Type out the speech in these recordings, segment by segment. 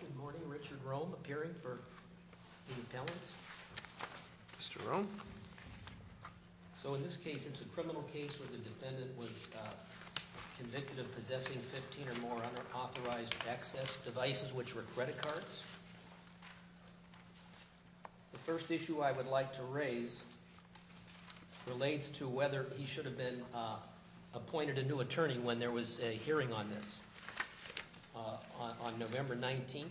Good morning. Richard Rome, appearing for the appellant. Mr. Rome. So in this case, it's a criminal case where the defendant was convicted of possessing 15 or more unauthorized access devices, which were credit cards. The first issue I would like to raise relates to whether he should have been appointed a new attorney when there was a hearing on this on November 19th.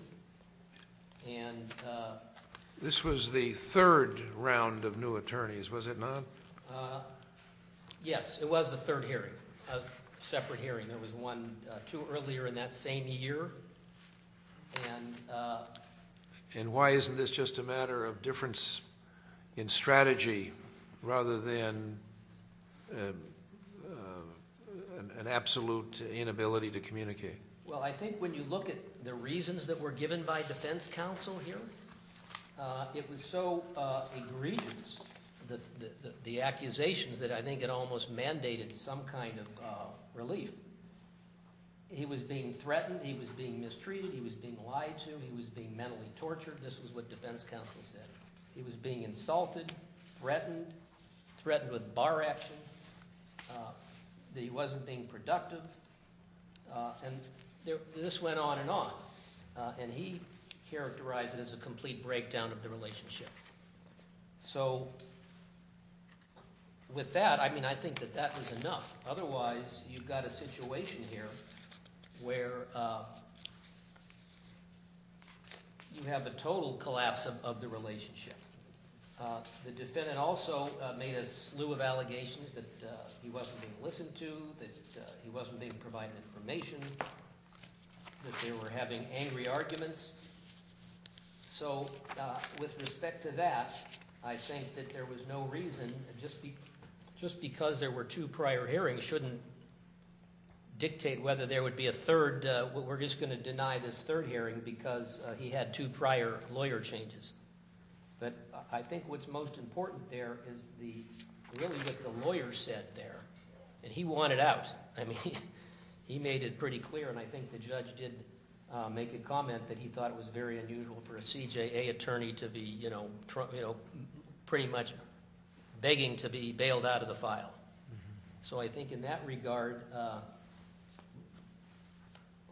This was the third round of new attorneys, was it not? Yes, it was the third hearing, a separate hearing. There was one, two earlier in that same year. And why isn't this just a matter of difference in strategy rather than an absolute inability to communicate? Well, I think when you look at the reasons that were given by defense counsel here, it was so egregious, the accusations, that I think it almost mandated some kind of relief. He was being threatened. He was being mistreated. He was being lied to. He was being mentally tortured. This was what defense counsel said. He was being insulted, threatened, threatened with bar action, that he wasn't being productive, and this went on and on. And he characterized it as a complete breakdown of the relationship. So with that, I mean I think that that is enough. Otherwise, you've got a situation here where you have a total collapse of the relationship. The defendant also made a slew of allegations that he wasn't being listened to, that he wasn't being provided information, that they were having angry arguments. So with respect to that, I think that there was no reason just because there were two prior hearings shouldn't dictate whether there would be a third. We're just going to deny this third hearing because he had two prior lawyer changes. But I think what's most important there is really what the lawyer said there, and he wanted out. He made it pretty clear, and I think the judge did make a comment that he thought it was very unusual for a CJA attorney to be pretty much begging to be bailed out of the file. So I think in that regard,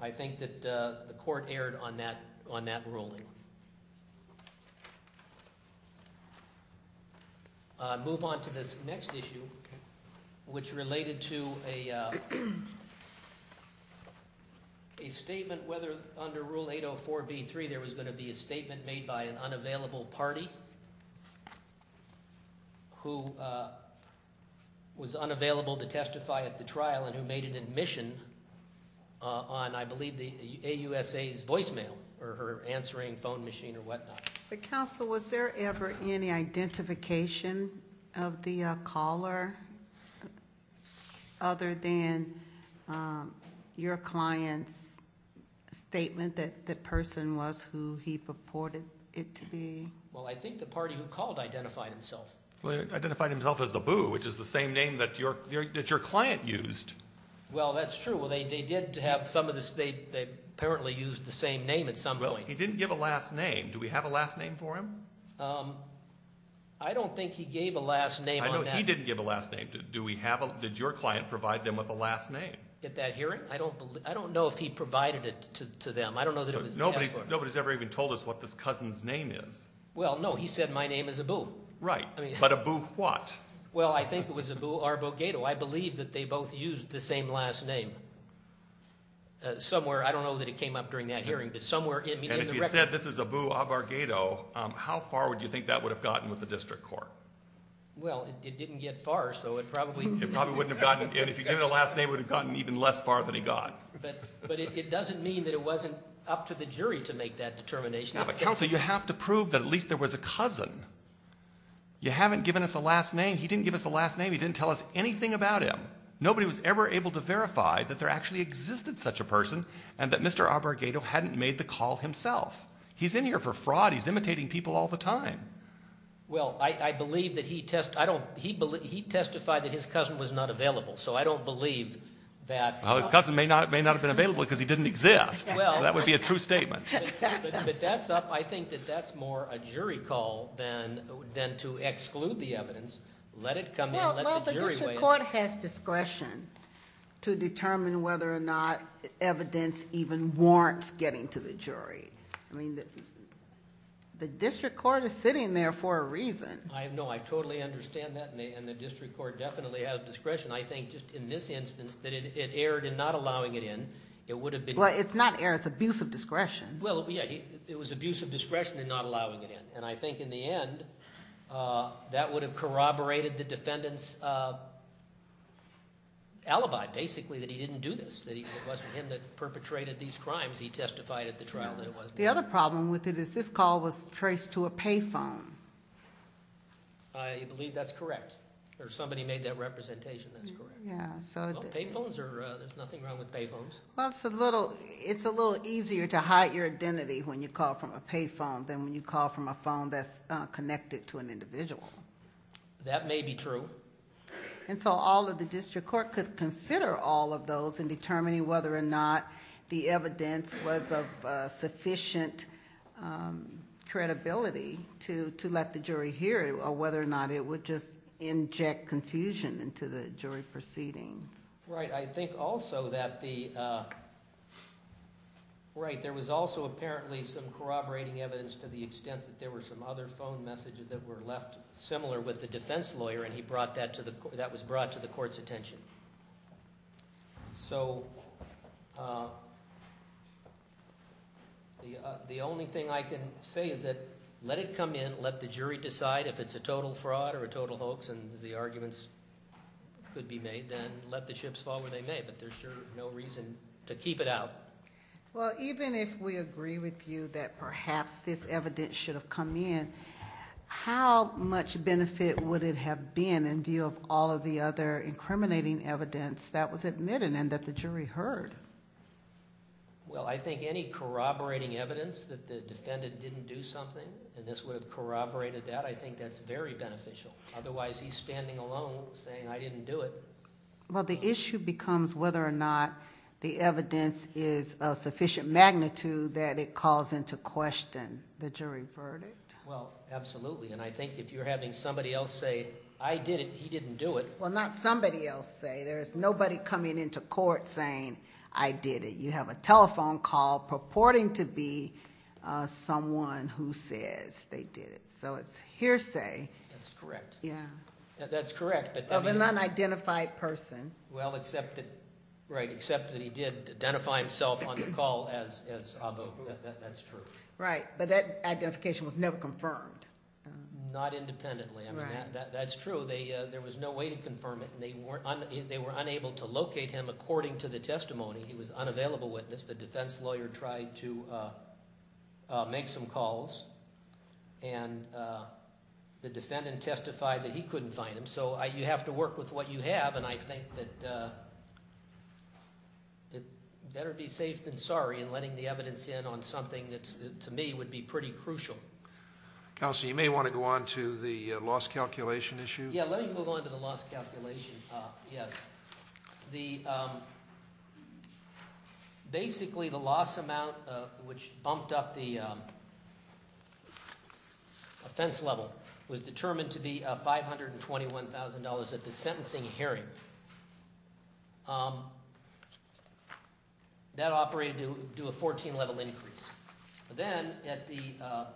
I think that the court erred on that ruling. I'll move on to this next issue, which related to a statement whether under Rule 804B3 there was going to be a statement made by an unavailable party who was unavailable to testify at the trial and who made an admission on, I believe, the AUSA's voicemail. Or her answering phone machine or whatnot. But counsel, was there ever any identification of the caller other than your client's statement that the person was who he purported it to be? Well, I think the party who called identified himself. Well, he identified himself as Abu, which is the same name that your client used. Well, that's true. Well, they did have some of this. They apparently used the same name at some point. Well, he didn't give a last name. Do we have a last name for him? I don't think he gave a last name on that. I know he didn't give a last name. Did your client provide them with a last name? At that hearing? I don't know if he provided it to them. I don't know that it was Tesla. Nobody's ever even told us what this cousin's name is. Well, no. He said my name is Abu. Right. But Abu what? Well, I think it was Abu Arbogato. I believe that they both used the same last name somewhere. I don't know that it came up during that hearing, but somewhere in the record. And if he had said this is Abu Arbogato, how far would you think that would have gotten with the district court? Well, it didn't get far, so it probably wouldn't have gotten. It probably wouldn't have gotten. And if he had given a last name, it would have gotten even less far than he got. But it doesn't mean that it wasn't up to the jury to make that determination. Now, but counsel, you have to prove that at least there was a cousin. You haven't given us a last name. He didn't give us a last name. He didn't tell us anything about him. Nobody was ever able to verify that there actually existed such a person and that Mr. Arbogato hadn't made the call himself. He's in here for fraud. He's imitating people all the time. Well, I believe that he testified that his cousin was not available, so I don't believe that. Well, his cousin may not have been available because he didn't exist. That would be a true statement. But that's up. I think that that's more a jury call than to exclude the evidence. Let it come in. Let the jury weigh in. Well, the district court has discretion to determine whether or not evidence even warrants getting to the jury. I mean, the district court is sitting there for a reason. I know. I totally understand that, and the district court definitely has discretion. I think just in this instance that it erred in not allowing it in. It would have been. Well, it's not erred. It's abuse of discretion. Well, yeah. It was abuse of discretion in not allowing it in. And I think in the end that would have corroborated the defendant's alibi, basically, that he didn't do this. That it wasn't him that perpetrated these crimes. He testified at the trial that it was. The other problem with it is this call was traced to a pay phone. I believe that's correct. Or somebody made that representation. That's correct. Well, pay phones are – there's nothing wrong with pay phones. Well, it's a little easier to hide your identity when you call from a pay phone than when you call from a phone that's connected to an individual. That may be true. And so all of the district court could consider all of those in determining whether or not the evidence was of sufficient credibility to let the jury hear it, or whether or not it would just inject confusion into the jury proceedings. Right. I think also that the – right. There was also apparently some corroborating evidence to the extent that there were some other phone messages that were left similar with the defense lawyer, and he brought that to the – that was brought to the court's attention. So the only thing I can say is that let it come in. Let the jury decide if it's a total fraud or a total hoax and the arguments could be made. Then let the chips fall where they may, but there's sure no reason to keep it out. Well, even if we agree with you that perhaps this evidence should have come in, how much benefit would it have been in view of all of the other incriminating evidence that was admitted and that the jury heard? Well, I think any corroborating evidence that the defendant didn't do something and this would have corroborated that, I think that's very beneficial. Otherwise, he's standing alone saying I didn't do it. Well, the issue becomes whether or not the evidence is of sufficient magnitude that it calls into question the jury verdict. Well, absolutely. And I think if you're having somebody else say I did it, he didn't do it. Well, not somebody else say. There's nobody coming into court saying I did it. You have a telephone call purporting to be someone who says they did it. So it's hearsay. That's correct. Yeah. That's correct. Of an unidentified person. Well, except that he did identify himself on the call as Abu. That's true. Right. But that identification was never confirmed. Not independently. That's true. There was no way to confirm it, and they were unable to locate him according to the testimony. He was unavailable witness. The defense lawyer tried to make some calls, and the defendant testified that he couldn't find him. So you have to work with what you have, and I think that better be safe than sorry in letting the evidence in on something that to me would be pretty crucial. Counsel, you may want to go on to the loss calculation issue. Yeah, let me move on to the loss calculation. Yes. Basically, the loss amount which bumped up the offense level was determined to be $521,000 at the sentencing hearing. That operated to do a 14-level increase. But then, of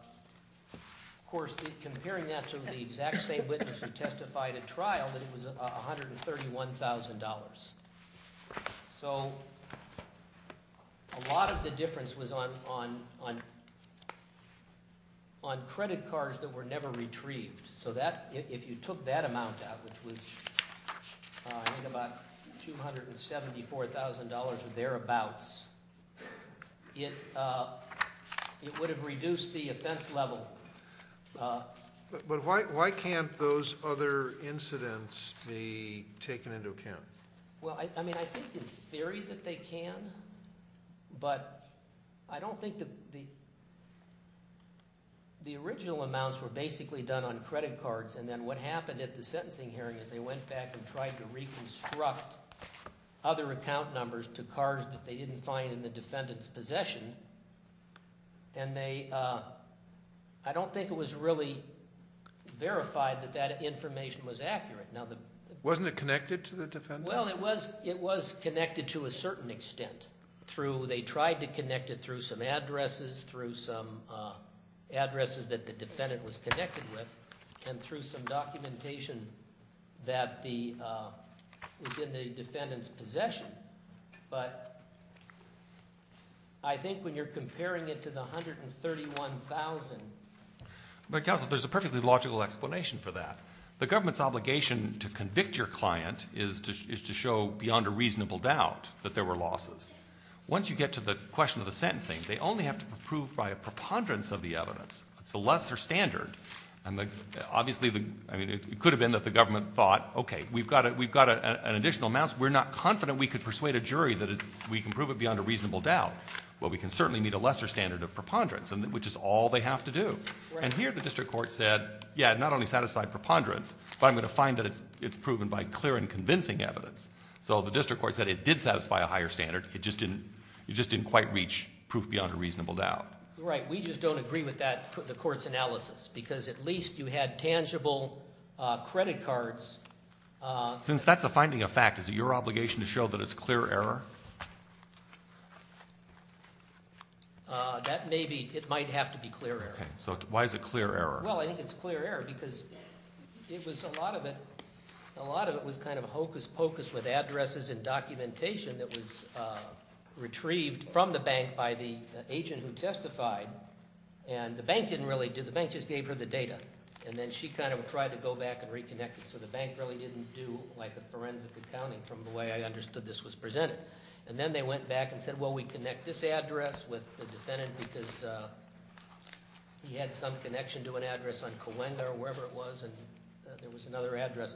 course, comparing that to the exact same witness who testified at trial, it was $131,000. So a lot of the difference was on credit cards that were never retrieved. So if you took that amount out, which was I think about $274,000 or thereabouts, it would have reduced the offense level. But why can't those other incidents be taken into account? Well, I mean I think in theory that they can, but I don't think the – the original amounts were basically done on credit cards. And then what happened at the sentencing hearing is they went back and tried to reconstruct other account numbers to cards that they didn't find in the defendant's possession. And they – I don't think it was really verified that that information was accurate. Wasn't it connected to the defendant? Well, it was connected to a certain extent through – they tried to connect it through some addresses, through some addresses that the defendant was connected with, and through some documentation that the – was in the defendant's possession. But I think when you're comparing it to the $131,000 – But counsel, there's a perfectly logical explanation for that. The government's obligation to convict your client is to show beyond a reasonable doubt that there were losses. Once you get to the question of the sentencing, they only have to prove by a preponderance of the evidence. It's a lesser standard. And obviously the – I mean it could have been that the government thought, okay, we've got an additional amount. We're not confident we could persuade a jury that it's – we can prove it beyond a reasonable doubt. Well, we can certainly meet a lesser standard of preponderance, which is all they have to do. And here the district court said, yeah, not only satisfy preponderance, but I'm going to find that it's proven by clear and convincing evidence. So the district court said it did satisfy a higher standard. It just didn't – it just didn't quite reach proof beyond a reasonable doubt. Right. We just don't agree with that – the court's analysis because at least you had tangible credit cards. Since that's a finding of fact, is it your obligation to show that it's clear error? That may be – it might have to be clear error. Okay. So why is it clear error? Well, I think it's clear error because it was a lot of it – a lot of it was kind of hocus pocus with addresses and documentation that was retrieved from the bank by the agent who testified. And the bank didn't really do – the bank just gave her the data, and then she kind of tried to go back and reconnect it. So the bank really didn't do like a forensic accounting from the way I understood this was presented. And then they went back and said, well, we connect this address with the defendant because he had some connection to an address on Coenda or wherever it was, and there was another address.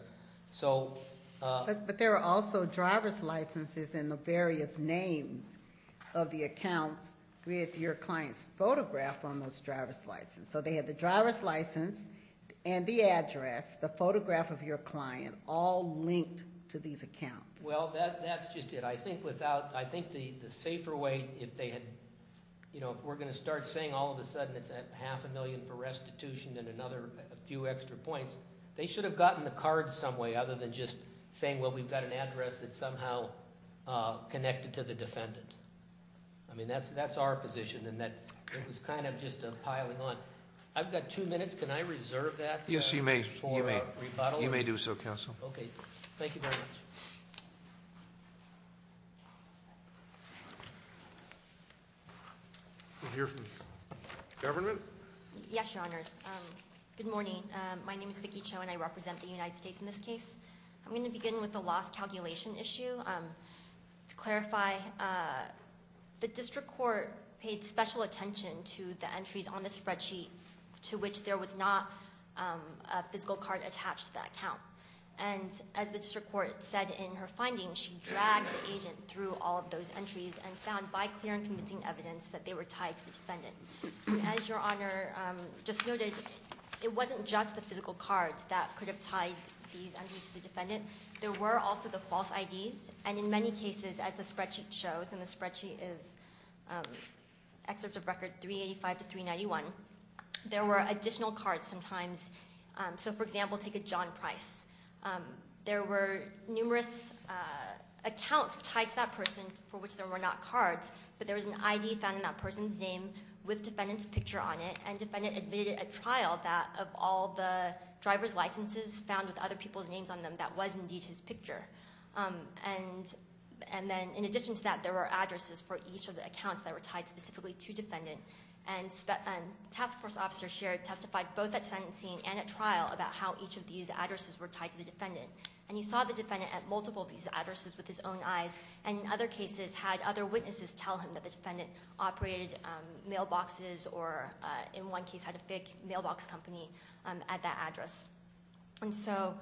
So – But there were also driver's licenses and the various names of the accounts with your client's photograph on those driver's licenses. So they had the driver's license and the address, the photograph of your client, all linked to these accounts. Well, that's just it. But I think without – I think the safer way, if they had – you know, if we're going to start saying all of a sudden it's half a million for restitution and another few extra points, they should have gotten the card some way other than just saying, well, we've got an address that's somehow connected to the defendant. I mean, that's our position, and that was kind of just piling on. I've got two minutes. Can I reserve that? Yes, you may. You may. You may do so, counsel. Okay. Thank you. Thank you very much. We'll hear from the government. Yes, Your Honors. Good morning. My name is Vicky Cho, and I represent the United States in this case. I'm going to begin with the lost calculation issue. To clarify, the district court paid special attention to the entries on the spreadsheet to which there was not a physical card attached to that account. And as the district court said in her findings, she dragged the agent through all of those entries and found by clear and convincing evidence that they were tied to the defendant. As Your Honor just noted, it wasn't just the physical cards that could have tied these entries to the defendant. There were also the false IDs, and in many cases, as the spreadsheet shows, and the spreadsheet is excerpts of record 385 to 391, there were additional cards sometimes. So, for example, take a John Price. There were numerous accounts tied to that person for which there were not cards, but there was an ID found in that person's name with defendant's picture on it, and defendant admitted at trial that of all the driver's licenses found with other people's names on them, that was indeed his picture. And then in addition to that, there were addresses for each of the accounts that were tied specifically to defendant. And task force officer shared testified both at sentencing and at trial about how each of these addresses were tied to the defendant. And you saw the defendant at multiple of these addresses with his own eyes, and in other cases, had other witnesses tell him that the defendant operated mailboxes or in one case had a fake mailbox company at that address. And so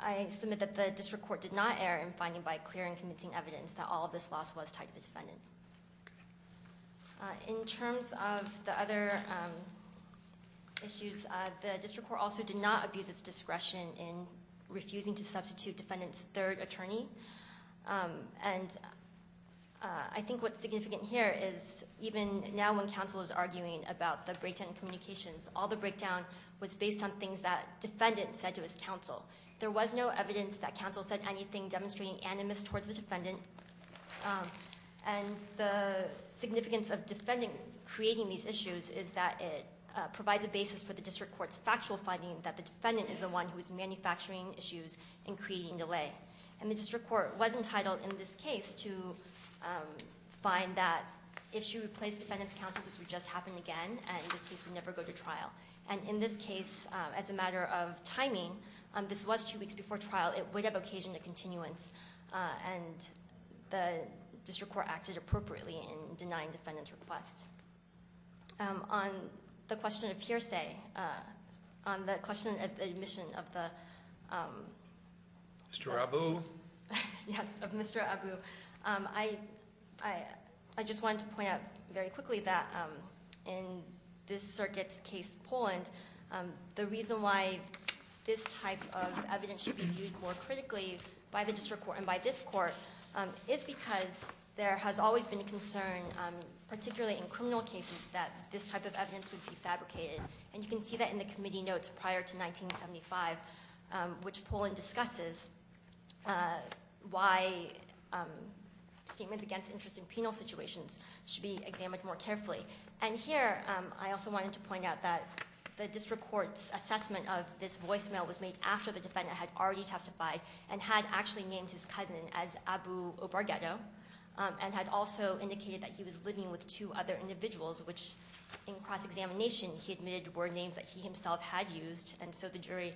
I submit that the district court did not err in finding by clear and convincing evidence that all of this loss was tied to the defendant. In terms of the other issues, the district court also did not abuse its discretion in refusing to substitute defendant's third attorney. And I think what's significant here is even now when counsel is arguing about the breakdown in communications, all the breakdown was based on things that defendant said to his counsel. There was no evidence that counsel said anything demonstrating animus towards the defendant. And the significance of defendant creating these issues is that it provides a basis for the district court's factual finding that the defendant is the one who is manufacturing issues and creating delay. And the district court was entitled in this case to find that if she replaced defendant's counsel, this would just happen again, and this case would never go to trial. And in this case, as a matter of timing, this was two weeks before trial. It would have occasioned a continuance, and the district court acted appropriately in denying defendant's request. On the question of hearsay, on the question of the admission of the- Mr. Abu. Yes, of Mr. Abu. I just wanted to point out very quickly that in this circuit's case, Poland, the reason why this type of evidence should be viewed more critically by the district court and by this court is because there has always been a concern, particularly in criminal cases, that this type of evidence would be fabricated. And you can see that in the committee notes prior to 1975, which Poland discusses why statements against interest in penal situations should be examined more carefully. And here, I also wanted to point out that the district court's assessment of this voicemail was made after the defendant had already testified and had actually named his cousin as Abu Obargeto and had also indicated that he was living with two other individuals, which in cross-examination he admitted were names that he himself had used, and so the jury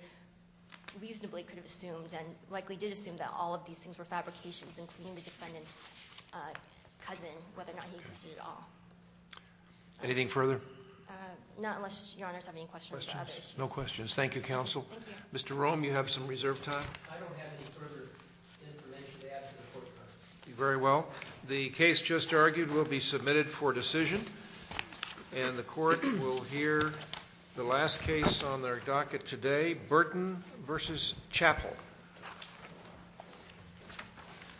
reasonably could have assumed and likely did assume that all of these things were fabrications, including the defendant's cousin, whether or not he existed at all. Anything further? Not unless Your Honor has any questions about other issues. No questions. Thank you, counsel. Mr. Rome, you have some reserve time. I don't have any further information to add to the court process. Very well. The case just argued will be submitted for decision, and the court will hear the last case on their docket today, Burton v. Chappell.